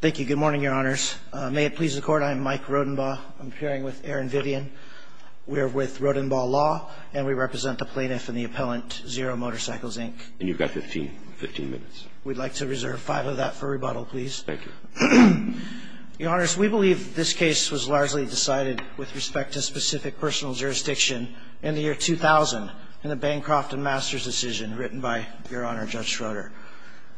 Thank you. Good morning, Your Honors. May it please the Court, I am Mike Rodenbaugh. I'm appearing with Aaron Vivian. We are with Rodenbaugh Law, and we represent the plaintiff and the appellant, Zero Motorcycles, Inc. And you've got 15 minutes. We'd like to reserve five of that for rebuttal, please. Thank you. Your Honors, we believe this case was largely decided with respect to specific personal jurisdiction in the year 2000, in the Bancroft and Masters decision written by Your Honor Judge Schroeder.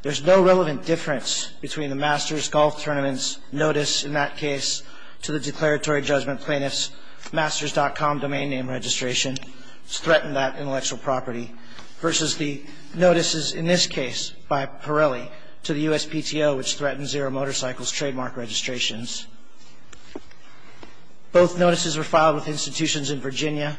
There's no relevant difference between the Masters Golf Tournament's notice in that case to the declaratory judgment plaintiff's Masters.com domain name registration, which threatened that intellectual property, versus the notices in this case by Pirelli to the USPTO, which threatened Zero Motorcycles' trademark registrations. Both notices were filed with institutions in Virginia.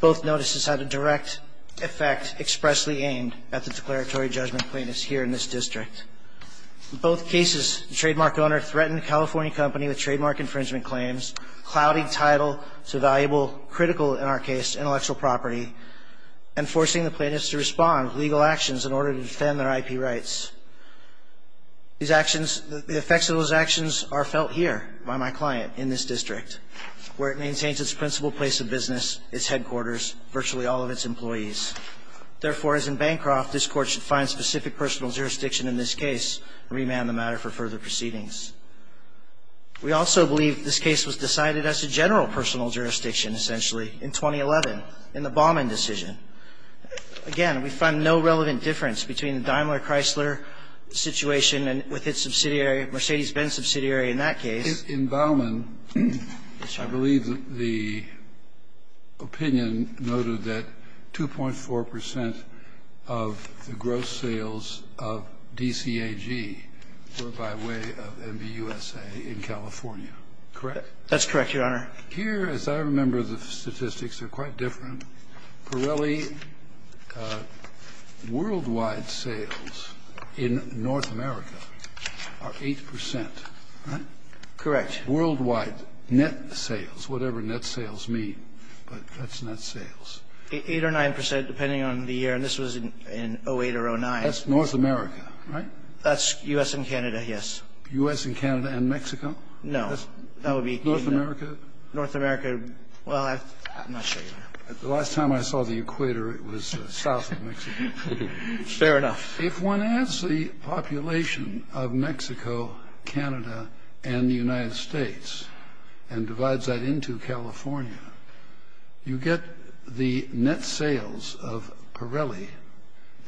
Both notices had a direct effect expressly aimed at the declaratory judgment plaintiffs here in this district. In both cases, the trademark owner threatened a California company with trademark infringement claims, clouding title to valuable, critical in our case, intellectual property, and forcing the plaintiffs to respond with legal actions in order to defend their IP rights. These actions, the effects of those actions are felt here by my client in this district, where it maintains its principal place of business, its headquarters, virtually all of its employees. Therefore, as in Bancroft, this Court should find specific personal jurisdiction in this case and remand the matter for further proceedings. We also believe this case was decided as a general personal jurisdiction, essentially, in 2011, in the Baumann decision. Again, we find no relevant difference between the Daimler Chrysler situation and with its subsidiary, Mercedes-Benz subsidiary, in that case. In Baumann, I believe the opinion noted that 2.4 percent of the gross sales of DCAG were by way of MBUSA in California, correct? That's correct, Your Honor. Here, as I remember the statistics, they're quite different. Pirelli worldwide sales in North America are 8 percent, right? Correct. Worldwide net sales, whatever net sales mean. But that's net sales. Eight or nine percent, depending on the year. And this was in 2008 or 2009. That's North America, right? That's U.S. and Canada, yes. U.S. and Canada and Mexico? No. North America? North America, well, I'm not sure. The last time I saw the equator, it was south of Mexico. Fair enough. If one adds the population of Mexico, Canada and the United States and divides that into California, you get the net sales of Pirelli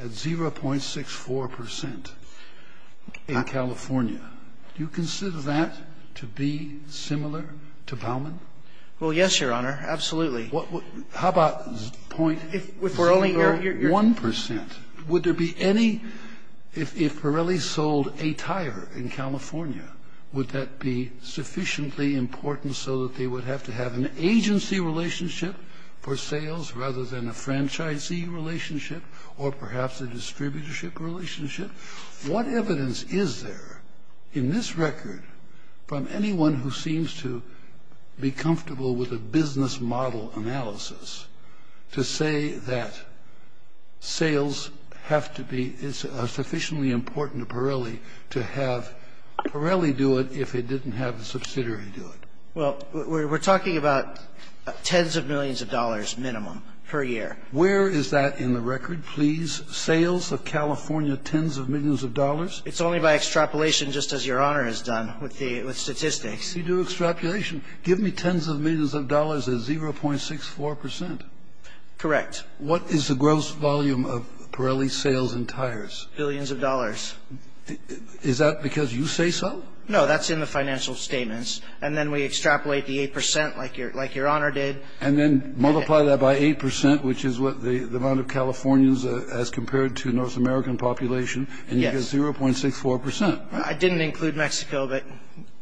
at 0.64 percent in California. Do you consider that to be similar to Baumann? Well, yes, Your Honor, absolutely. How about 0.01 percent? Would there be any – if Pirelli sold a tire in California, would that be sufficiently important so that they would have to have an agency relationship for sales rather than a franchisee relationship or perhaps a distributorship relationship? What evidence is there in this record from anyone who seems to be comfortable with a business model analysis to say that sales have to be – it's sufficiently important to Pirelli to have Pirelli do it if it didn't have a subsidiary do it? Well, we're talking about tens of millions of dollars minimum per year. Where is that in the record, please? Sales of California, tens of millions of dollars? It's only by extrapolation, just as Your Honor has done with statistics. You do extrapolation. Give me tens of millions of dollars at 0.64 percent. Correct. What is the gross volume of Pirelli sales and tires? Billions of dollars. Is that because you say so? No, that's in the financial statements. And then we extrapolate the 8 percent like Your Honor did. And then multiply that by 8 percent, which is what the amount of Californians as compared to North American population, and you get 0.64 percent. I didn't include Mexico, but,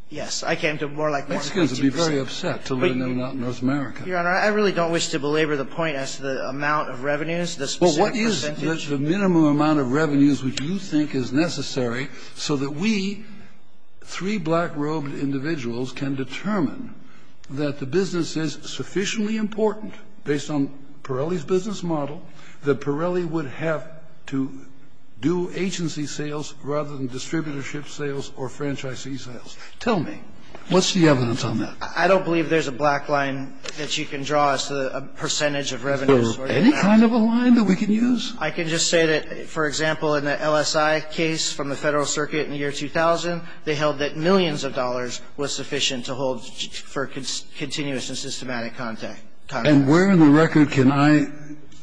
yes, I came to it more like Mexico. I was going to be very upset to learn they're not North America. Your Honor, I really don't wish to belabor the point as to the amount of revenues, the specific percentage. Well, what is the minimum amount of revenues which you think is necessary so that we, three black-robed individuals, can determine that the business is sufficiently important, based on Pirelli's business model, that Pirelli would have to do agency sales rather than distributorship sales or franchisee sales? Tell me. What's the evidence on that? I don't believe there's a black line that you can draw as to the percentage of revenues. Any kind of a line that we can use? I can just say that, for example, in the LSI case from the Federal Circuit in the year 2000, they held that millions of dollars was sufficient to hold for continuous and systematic contact. And where in the record can I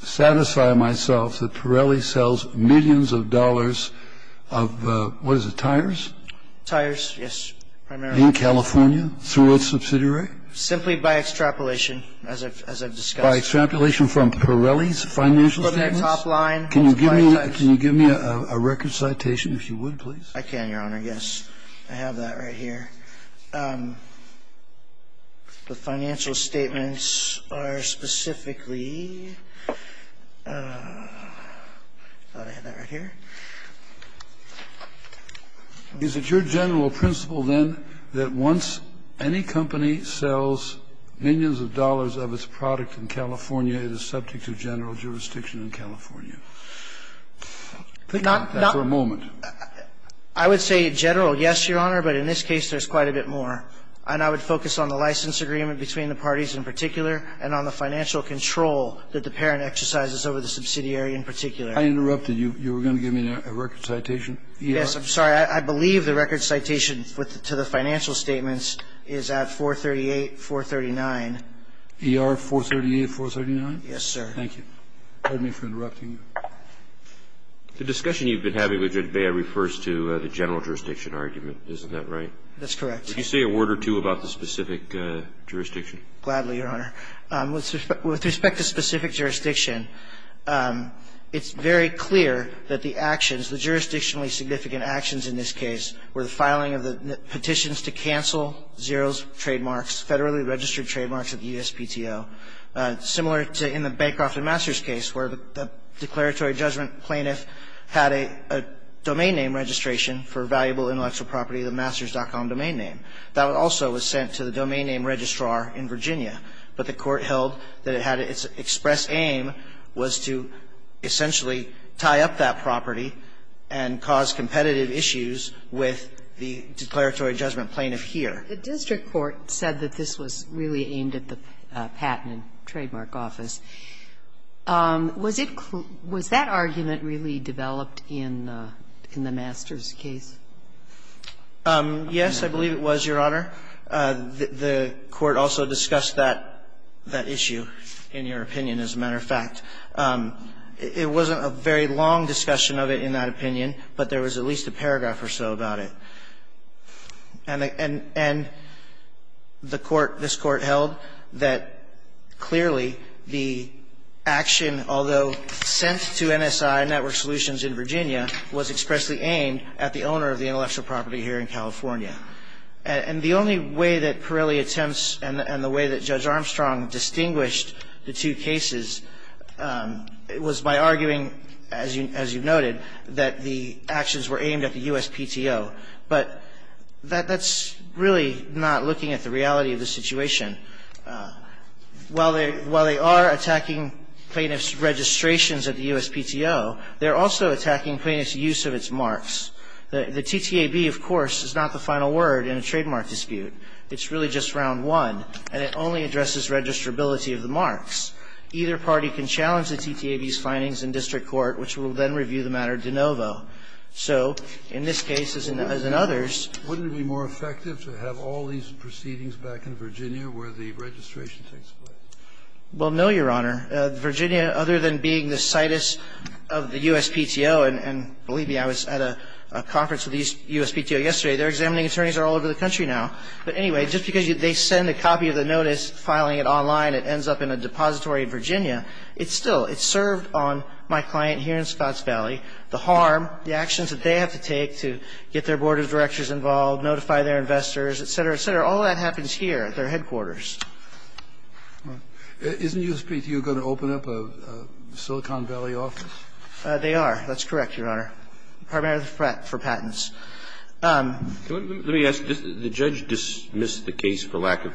satisfy myself that Pirelli sells millions of dollars of, what is it, tires? Tires, yes. In California, through its subsidiary? Simply by extrapolation, as I've discussed. By extrapolation from Pirelli's financial statements? Can you give me a record citation, if you would, please? I can, Your Honor, yes. I have that right here. The financial statements are specifically ñ I thought I had that right here. Is it your general principle, then, that once any company sells millions of dollars of its product in California, it is subject to general jurisdiction in California? Think about that for a moment. I would say general, yes, Your Honor, but in this case there's quite a bit more. And I would focus on the license agreement between the parties in particular and on the financial control that the parent exercises over the subsidiary in particular. I interrupted. You were going to give me a record citation? Yes, I'm sorry. I believe the record citation to the financial statements is at 438, 439. ER 438, 439? Yes, sir. Thank you. Pardon me for interrupting you. The discussion you've been having with Judge Bea refers to the general jurisdiction argument, isn't that right? That's correct. Would you say a word or two about the specific jurisdiction? Gladly, Your Honor. With respect to specific jurisdiction, it's very clear that the actions, the jurisdictionally significant actions in this case, were the filing of the petitions to cancel Xero's trademarks, federally registered trademarks at the USPTO, similar to in the Bancroft and Masters case where the declaratory judgment plaintiff had a domain name registration for valuable intellectual property, the masters.com domain name. That also was sent to the domain name registrar in Virginia, but the court held that it had its express aim was to essentially tie up that property and cause competitive issues with the declaratory judgment plaintiff here. The district court said that this was really aimed at the patent and trademark office. Was that argument really developed in the masters case? Yes, I believe it was, Your Honor. The court also discussed that issue, in your opinion, as a matter of fact. It wasn't a very long discussion of it in that opinion, but there was at least a paragraph or so about it. And the court, this court held that clearly the action, although sent to NSI Network Solutions in Virginia, was expressly aimed at the owner of the intellectual property here in California. And the only way that Pirelli attempts and the way that Judge Armstrong distinguished the two cases was by arguing, as you noted, that the actions were aimed at the USPTO. But that's really not looking at the reality of the situation. While they are attacking plaintiff's registrations at the USPTO, they're also attacking plaintiff's use of its marks. The TTAB, of course, is not the final word in a trademark dispute. It's really just round one, and it only addresses registrability of the marks. Either party can challenge the TTAB's findings in district court, which will then review the matter de novo. So in this case, as in others ---- Wouldn't it be more effective to have all these proceedings back in Virginia where the registration takes place? Well, no, Your Honor. Virginia, other than being the situs of the USPTO, and believe me, I was at a conference with the USPTO yesterday. Their examining attorneys are all over the country now. But anyway, just because they send a copy of the notice, filing it online, it ends up in a depository in Virginia, it's still ---- it served on my client here in Scotts Valley the harm, the actions that they have to take to get their board of directors involved, notify their investors, et cetera, et cetera. All that happens here at their headquarters. Isn't USPTO going to open up a Silicon Valley office? They are. That's correct, Your Honor. Department of the Pratt for patents. Let me ask. The judge dismissed the case for lack of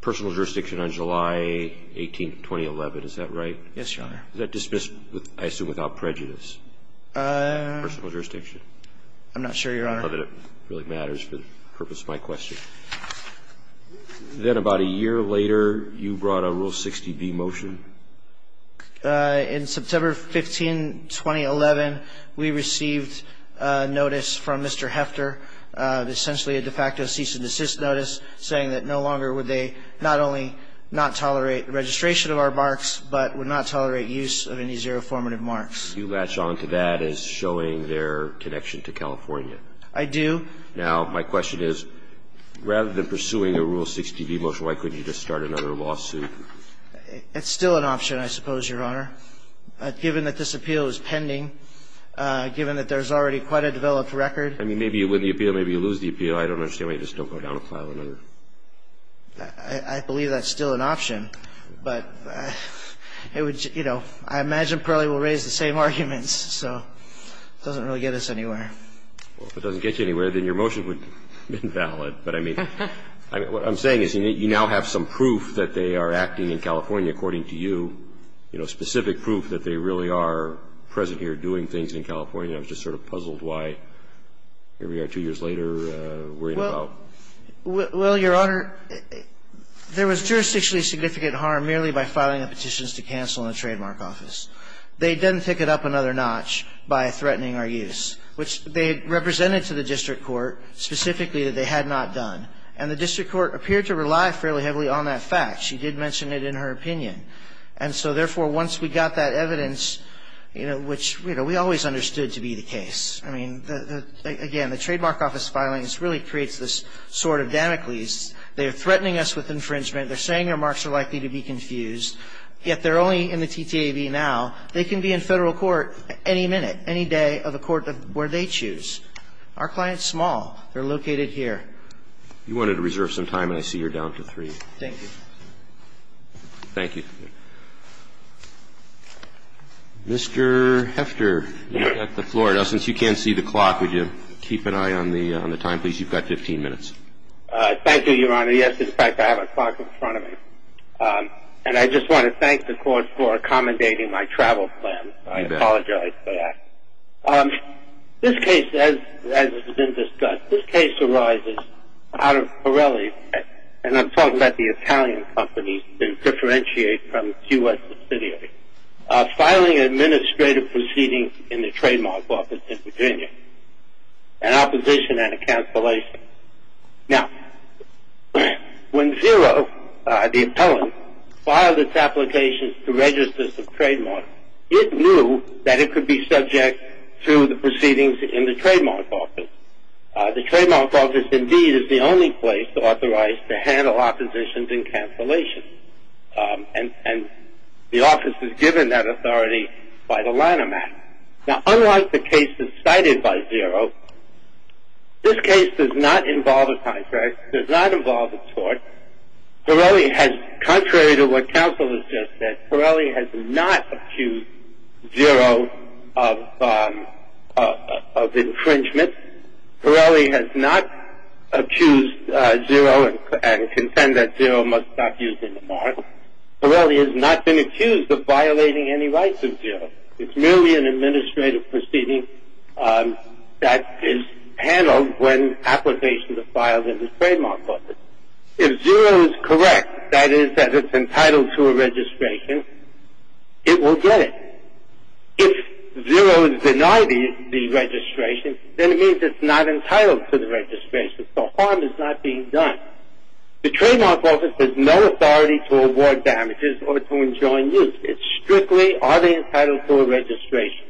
personal jurisdiction on July 18th, 2011. Is that right? Yes, Your Honor. Was that dismissed, I assume, without prejudice? Personal jurisdiction? I'm not sure, Your Honor. I don't know that it really matters for the purpose of my question. Then about a year later, you brought a Rule 60B motion. In September 15, 2011, we received a notice from Mr. Hefter, essentially a de facto cease and desist notice, saying that no longer would they not only not tolerate registration of our marks, but would not tolerate use of any zero formative marks. You latch onto that as showing their connection to California. I do. Now, my question is, rather than pursuing a Rule 60B motion, why couldn't you just start another lawsuit? It's still an option, I suppose, Your Honor. Given that this appeal is pending, given that there's already quite a developed record. I mean, maybe you win the appeal, maybe you lose the appeal. I don't understand why you just don't go down and file another. I believe that's still an option. But, you know, I imagine Parley will raise the same arguments. So it doesn't really get us anywhere. Well, if it doesn't get you anywhere, then your motion would have been valid. But, I mean, what I'm saying is you now have some proof that they are acting in California, according to you, you know, specific proof that they really are present here doing things in California. I was just sort of puzzled why here we are two years later worrying about. Well, Your Honor, there was jurisdictionally significant harm merely by filing the petitions to cancel in the trademark office. They didn't pick it up another notch by threatening our use, which they represented to the district court specifically that they had not done. And the district court appeared to rely fairly heavily on that fact. She did mention it in her opinion. And so, therefore, once we got that evidence, you know, which, you know, we always understood to be the case. I mean, again, the trademark office filings really creates this sort of Damocles. They're threatening us with infringement. They're saying our marks are likely to be confused. Yet they're only in the TTAV now. They can be in Federal court any minute, any day of the court where they choose. Our client's small. They're located here. You wanted to reserve some time, and I see you're down to three. Thank you. Thank you. Mr. Hefter, you have the floor. Now, since you can't see the clock, would you keep an eye on the time, please? You've got 15 minutes. Thank you, Your Honor. Yes, in fact, I have a clock in front of me. And I just want to thank the court for accommodating my travel plan. I apologize for that. This case, as has been discussed, this case arises out of Pirelli, and I'm talking about the Italian company to differentiate from the U.S. subsidiary, filing an administrative proceeding in the trademark office in Virginia, an opposition and a cancellation. Now, when Xero, the appellant, filed its applications to registers of trademark, it knew that it could be subject to the proceedings in the trademark office. The trademark office, indeed, is the only place authorized to handle oppositions and cancellations, and the office is given that authority by the Lanham Act. Now, unlike the cases cited by Xero, this case does not involve a contract. It does not involve a tort. Pirelli has, contrary to what counsel has just said, Pirelli has not accused Xero of infringement. Pirelli has not accused Xero and contend that Xero must stop using the mark. Pirelli has not been accused of violating any rights of Xero. It's merely an administrative proceeding that is handled when applications are filed in the trademark office. If Xero is correct, that is, that it's entitled to a registration, it will get it. If Xero is denied the registration, then it means it's not entitled to the registration, so harm is not being done. The trademark office has no authority to award damages or to enjoin use. It's strictly, are they entitled to a registration?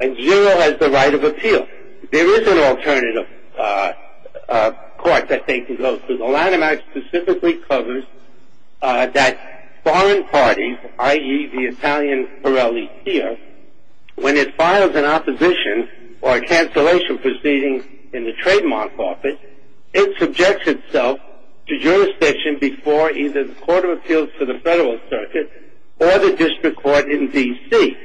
And Xero has the right of appeal. There is an alternative court that they can go to. The Lanham Act specifically covers that foreign parties, i.e., the Italian Pirelli here, when it files an opposition or a cancellation proceeding in the trademark office, it subjects itself to jurisdiction before either the Court of Appeals for the Federal Circuit or the district court in D.C.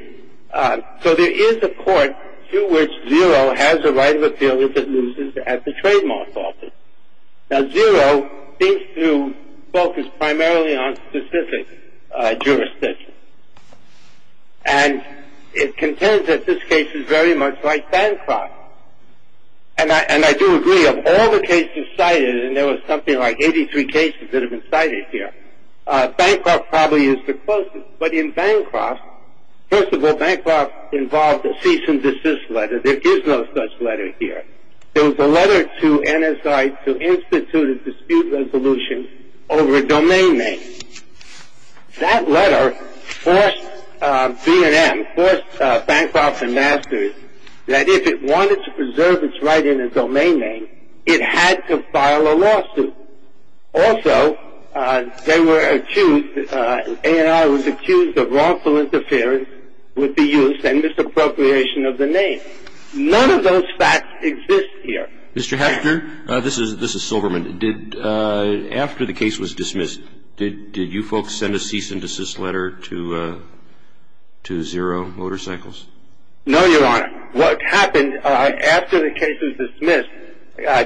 So there is a court to which Xero has a right of appeal if it loses at the trademark office. Now, Xero seems to focus primarily on specific jurisdictions, and it contends that this case is very much like Bancroft. And I do agree, of all the cases cited, and there was something like 83 cases that have been cited here, Bancroft probably is the closest. But in Bancroft, first of all, Bancroft involved a cease and desist letter. There is no such letter here. There was a letter to NSI to institute a dispute resolution over a domain name. That letter forced B&M, forced Bancroft and Masters, that if it wanted to preserve its right in a domain name, it had to file a lawsuit. Also, they were accused, A&R was accused of wrongful interference with the use and misappropriation of the name. None of those facts exist here. Mr. Hechter, this is Silverman. After the case was dismissed, did you folks send a cease and desist letter to Xero Motorcycles? No, Your Honor. What happened after the case was dismissed,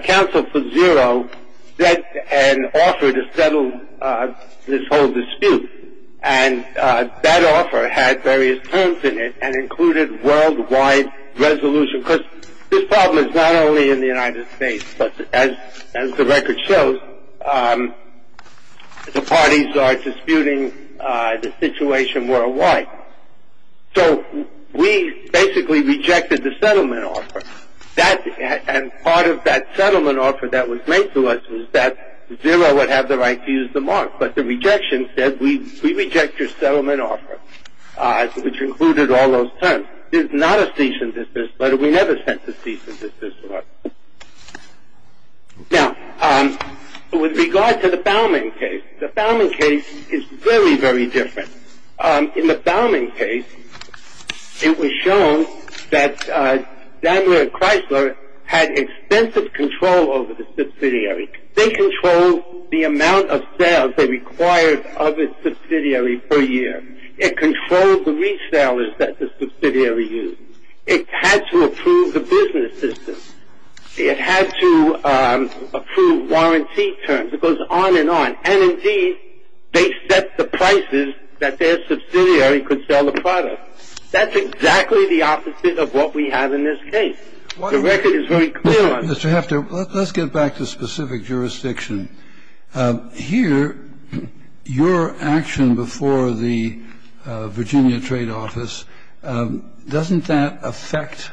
counsel for Xero sent an offer to settle this whole dispute, and that offer had various terms in it and included worldwide resolution. Because this problem is not only in the United States, but as the record shows, the parties are disputing the situation worldwide. So we basically rejected the settlement offer. And part of that settlement offer that was made to us was that Xero would have the right to use the mark. But the rejection said, we reject your settlement offer, which included all those terms. This is not a cease and desist letter. We never sent a cease and desist letter. Now, with regard to the Fowlman case, the Fowlman case is very, very different. In the Fowlman case, it was shown that Daimler and Chrysler had extensive control over the subsidiary. They controlled the amount of sales they required of its subsidiary per year. It controlled the resellers that the subsidiary used. It had to approve the business system. It had to approve warranty terms. It goes on and on. And, indeed, they set the prices that their subsidiary could sell the product. That's exactly the opposite of what we have in this case. The record is very clear on that. Mr. Heffter, let's get back to specific jurisdiction. Here, your action before the Virginia Trade Office, doesn't that affect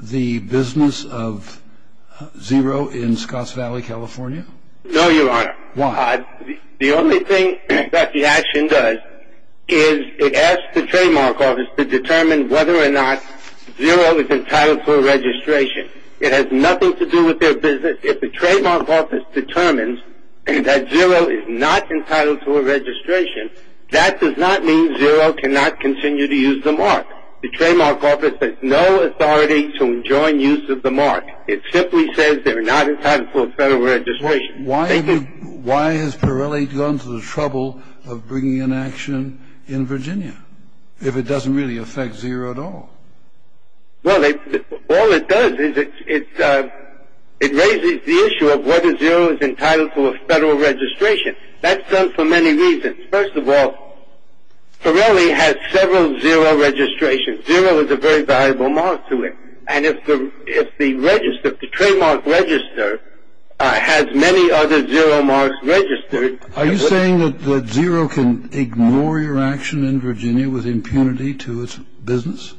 the business of Xero in Scotts Valley, California? No, Your Honor. Why? The only thing that the action does is it asks the trademark office to determine whether or not Xero is entitled for registration. It has nothing to do with their business. If the trademark office determines that Xero is not entitled to a registration, that does not mean Xero cannot continue to use the mark. The trademark office has no authority to enjoin use of the mark. It simply says they're not entitled to a federal registration. Why has Pirelli gone to the trouble of bringing an action in Virginia if it doesn't really affect Xero at all? Well, all it does is it raises the issue of whether Xero is entitled to a federal registration. That's done for many reasons. First of all, Pirelli has several Xero registrations. Xero is a very valuable mark to it. And if the trademark register has many other Xero marks registered... Are you saying that Xero can ignore your action in Virginia with impunity to its business?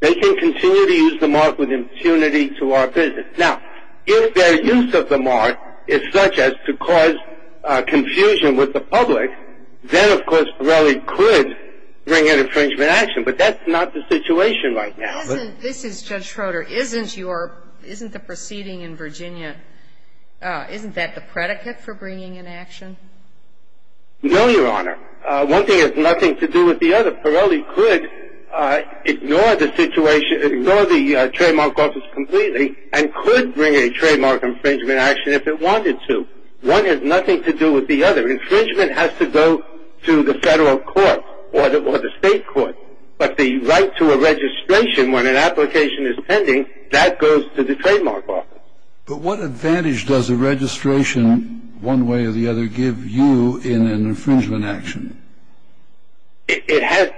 They can continue to use the mark with impunity to our business. Now, if their use of the mark is such as to cause confusion with the public, then, of course, Pirelli could bring an infringement action, but that's not the situation right now. This is Judge Schroeder. Isn't the proceeding in Virginia, isn't that the predicate for bringing an action? No, Your Honor. One thing has nothing to do with the other. Pirelli could ignore the trademark office completely and could bring a trademark infringement action if it wanted to. One has nothing to do with the other. Infringement has to go to the federal court or the state court. But the right to a registration when an application is pending, that goes to the trademark office. But what advantage does a registration, one way or the other, give you in an infringement action? It has...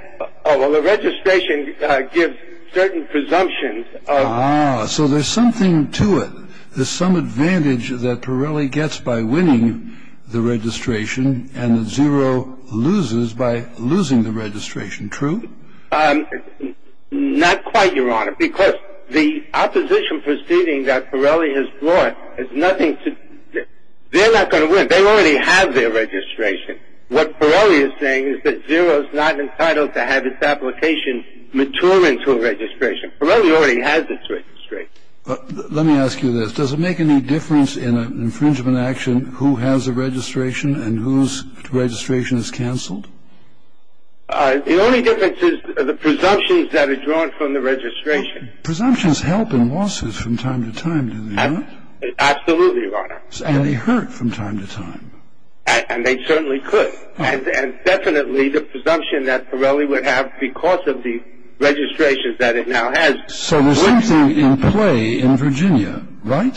Well, a registration gives certain presumptions of... Ah, so there's something to it. There's some advantage that Pirelli gets by winning the registration and that Xero loses by losing the registration, true? Not quite, Your Honor, because the opposition proceeding that Pirelli has brought has nothing to... They're not going to win. They already have their registration. What Pirelli is saying is that Xero is not entitled to have its application mature into a registration. Pirelli already has its registration. Let me ask you this. Does it make any difference in an infringement action who has a registration and whose registration is canceled? The only difference is the presumptions that are drawn from the registration. Presumptions help in lawsuits from time to time, do they not? Absolutely, Your Honor. And they hurt from time to time. And they certainly could. And definitely the presumption that Pirelli would have because of the registrations that it now has... So there's something in play in Virginia, right?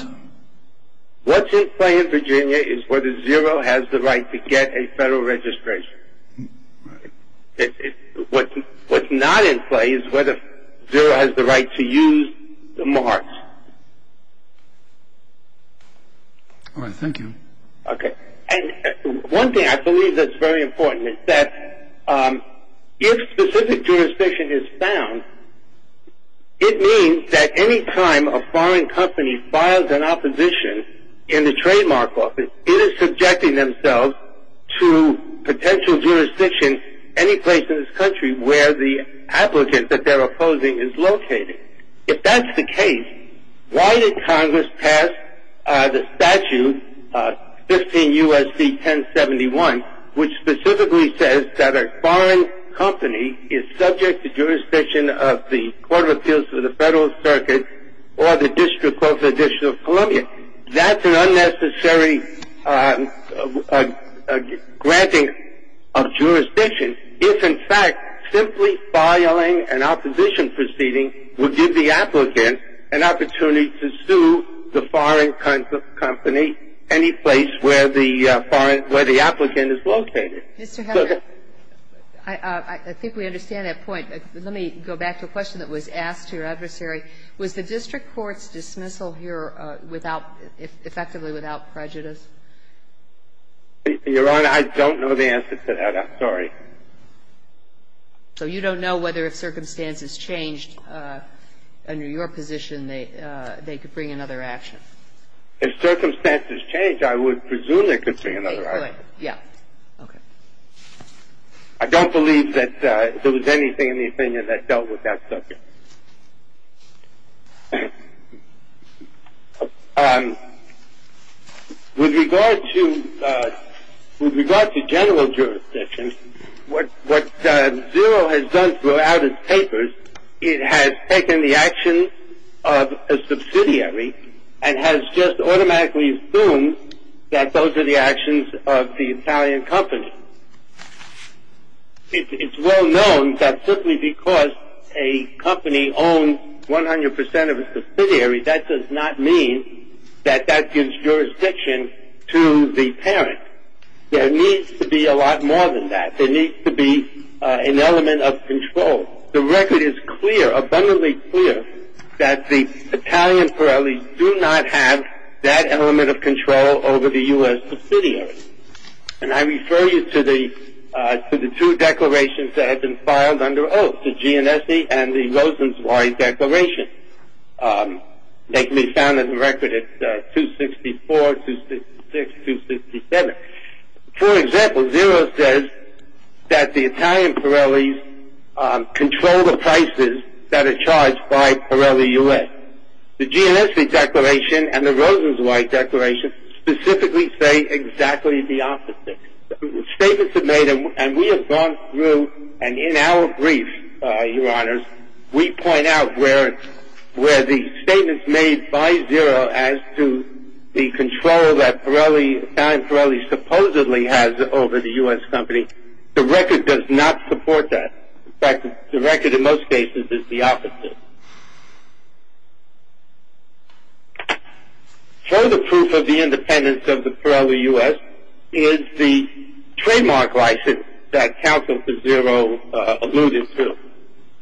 What's in play in Virginia is whether Xero has the right to get a federal registration. What's not in play is whether Xero has the right to use the marks. All right, thank you. Okay. And one thing I believe that's very important is that if specific jurisdiction is found, it means that any time a foreign company files an opposition in the trademark office, it is subjecting themselves to potential jurisdiction any place in this country where the applicant that they're opposing is located. If that's the case, why did Congress pass the statute, 15 U.S.C. 1071, which specifically says that a foreign company is subject to jurisdiction of the Court of Appeals for the Federal Circuit or the District of the District of Columbia? I think we understand that point. Let me go back to a question that was asked to your adversary. Was the district court's dismissal here effectively without prejudice? Your Honor, I don't know the answer to that. I'm sorry. So you don't know whether if circumstances changed under your position they could bring another action? If circumstances changed, I would presume they could bring another action. Yeah. Okay. I don't believe that there was anything in the opinion that dealt with that subject. Okay. With regard to general jurisdiction, what Xero has done throughout its papers, it has taken the actions of a subsidiary and has just automatically assumed that those are the actions of the Italian company. It's well known that simply because a company owns 100 percent of a subsidiary, that does not mean that that gives jurisdiction to the parent. There needs to be a lot more than that. There needs to be an element of control. The record is clear, abundantly clear, that the Italian Pirelli do not have that element of control over the U.S. subsidiary. And I refer you to the two declarations that have been filed under oath, the GNSE and the Rosenzweig Declaration. They can be found in the record at 264, 266, 267. For example, Xero says that the Italian Pirellis control the prices that are charged by Pirelli U.S. But the GNSE Declaration and the Rosenzweig Declaration specifically say exactly the opposite. Statements are made, and we have gone through, and in our brief, Your Honors, we point out where the statements made by Xero as to the control that Pirelli, Italian Pirelli, supposedly has over the U.S. company, the record does not support that. In fact, the record in most cases is the opposite. Further proof of the independence of the Pirelli U.S. is the trademark license that counsel for Xero alluded to.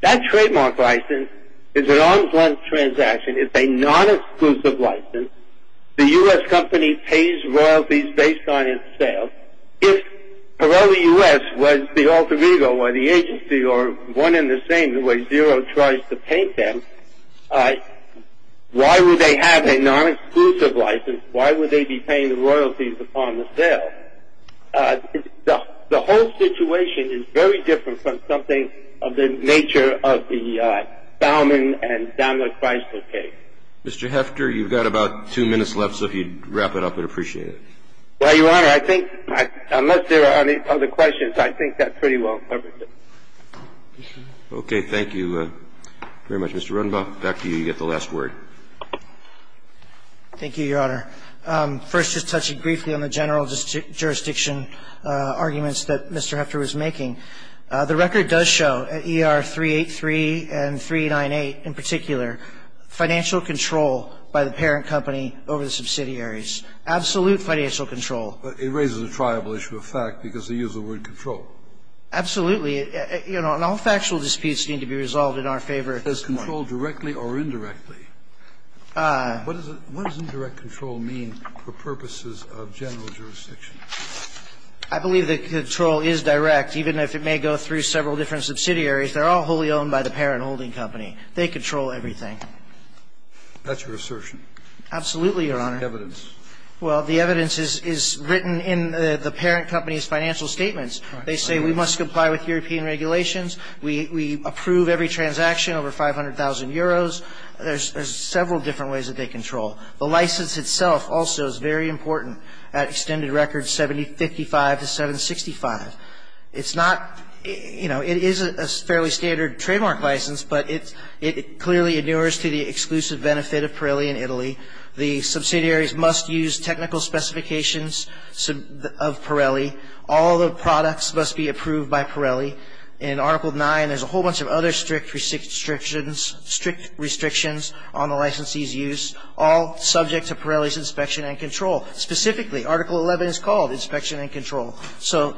That trademark license is an onslaught transaction. It's a non-exclusive license. The U.S. company pays royalties based on its sales. If Pirelli U.S. was the alter ego or the agency or one in the same the way Xero tries to paint them, why would they have a non-exclusive license? Why would they be paying the royalties upon the sale? The whole situation is very different from something of the nature of the Bauman and Donald Chrysler case. Mr. Hefter, you've got about two minutes left, so if you'd wrap it up, I'd appreciate it. Well, Your Honor, I think unless there are any other questions, I think that's pretty well covered. Okay. Thank you very much, Mr. Runbaugh. Back to you. You've got the last word. Thank you, Your Honor. First, just touching briefly on the general jurisdiction arguments that Mr. Hefter was making, the record does show at ER 383 and 398 in particular financial control by the parent company over the subsidiaries, absolute financial control. It raises a triable issue of fact because they use the word control. Absolutely. You know, and all factual disputes need to be resolved in our favor. Does control directly or indirectly? What does indirect control mean for purposes of general jurisdiction? I believe that control is direct, even if it may go through several different subsidiaries. They're all wholly owned by the parent holding company. They control everything. That's your assertion? Absolutely, Your Honor. What's the evidence? Well, the evidence is written in the parent company's financial statements. They say we must comply with European regulations. We approve every transaction over 500,000 euros. There's several different ways that they control. The license itself also is very important at extended records 7055 to 765. It's not, you know, it is a fairly standard trademark license, but it clearly endures to the exclusive benefit of Pirelli in Italy. The subsidiaries must use technical specifications of Pirelli. All the products must be approved by Pirelli. In Article 9, there's a whole bunch of other strict restrictions on the licensee's use, all subject to Pirelli's inspection and control. Specifically, Article 11 is called inspection and control. So,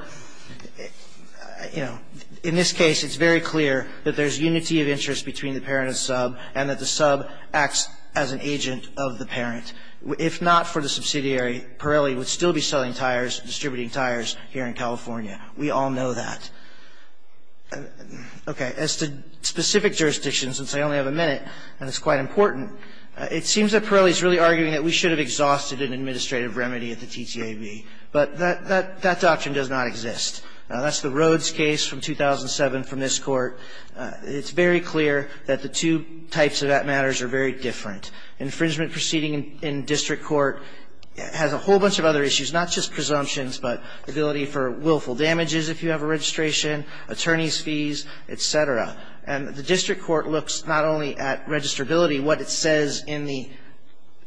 you know, in this case, it's very clear that there's unity of interest between the parent and sub and that the sub acts as an agent of the parent. If not for the subsidiary, Pirelli would still be selling tires, distributing tires here in California. We all know that. Okay. As to specific jurisdictions, since I only have a minute and it's quite important, it seems that Pirelli is really arguing that we should have exhausted an administrative remedy at the TTAB. But that doctrine does not exist. That's the Rhodes case from 2007 from this Court. It's very clear that the two types of that matters are very different. Infringement proceeding in district court has a whole bunch of other issues, not just presumptions, but ability for willful damages if you have a registration, attorney's fees, et cetera. And the district court looks not only at registrability, what it says in the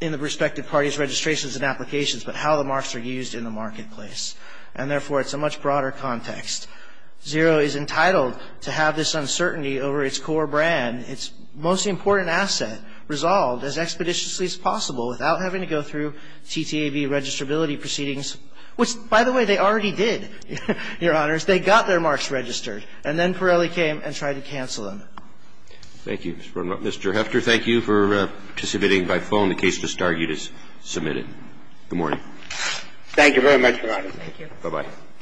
respective parties' registrations and applications, but how the marks are used in the marketplace. And, therefore, it's a much broader context. Zero is entitled to have this uncertainty over its core brand, its most important asset, resolved as expeditiously as possible without having to go through TTAB registrability proceedings, which, by the way, they already did, Your Honors. They got their marks registered. And then Pirelli came and tried to cancel them. Thank you, Mr. Rundrup. Mr. Hefter, thank you for participating by phone. The case just argued is submitted. Good morning. Thank you very much, Your Honor. Thank you.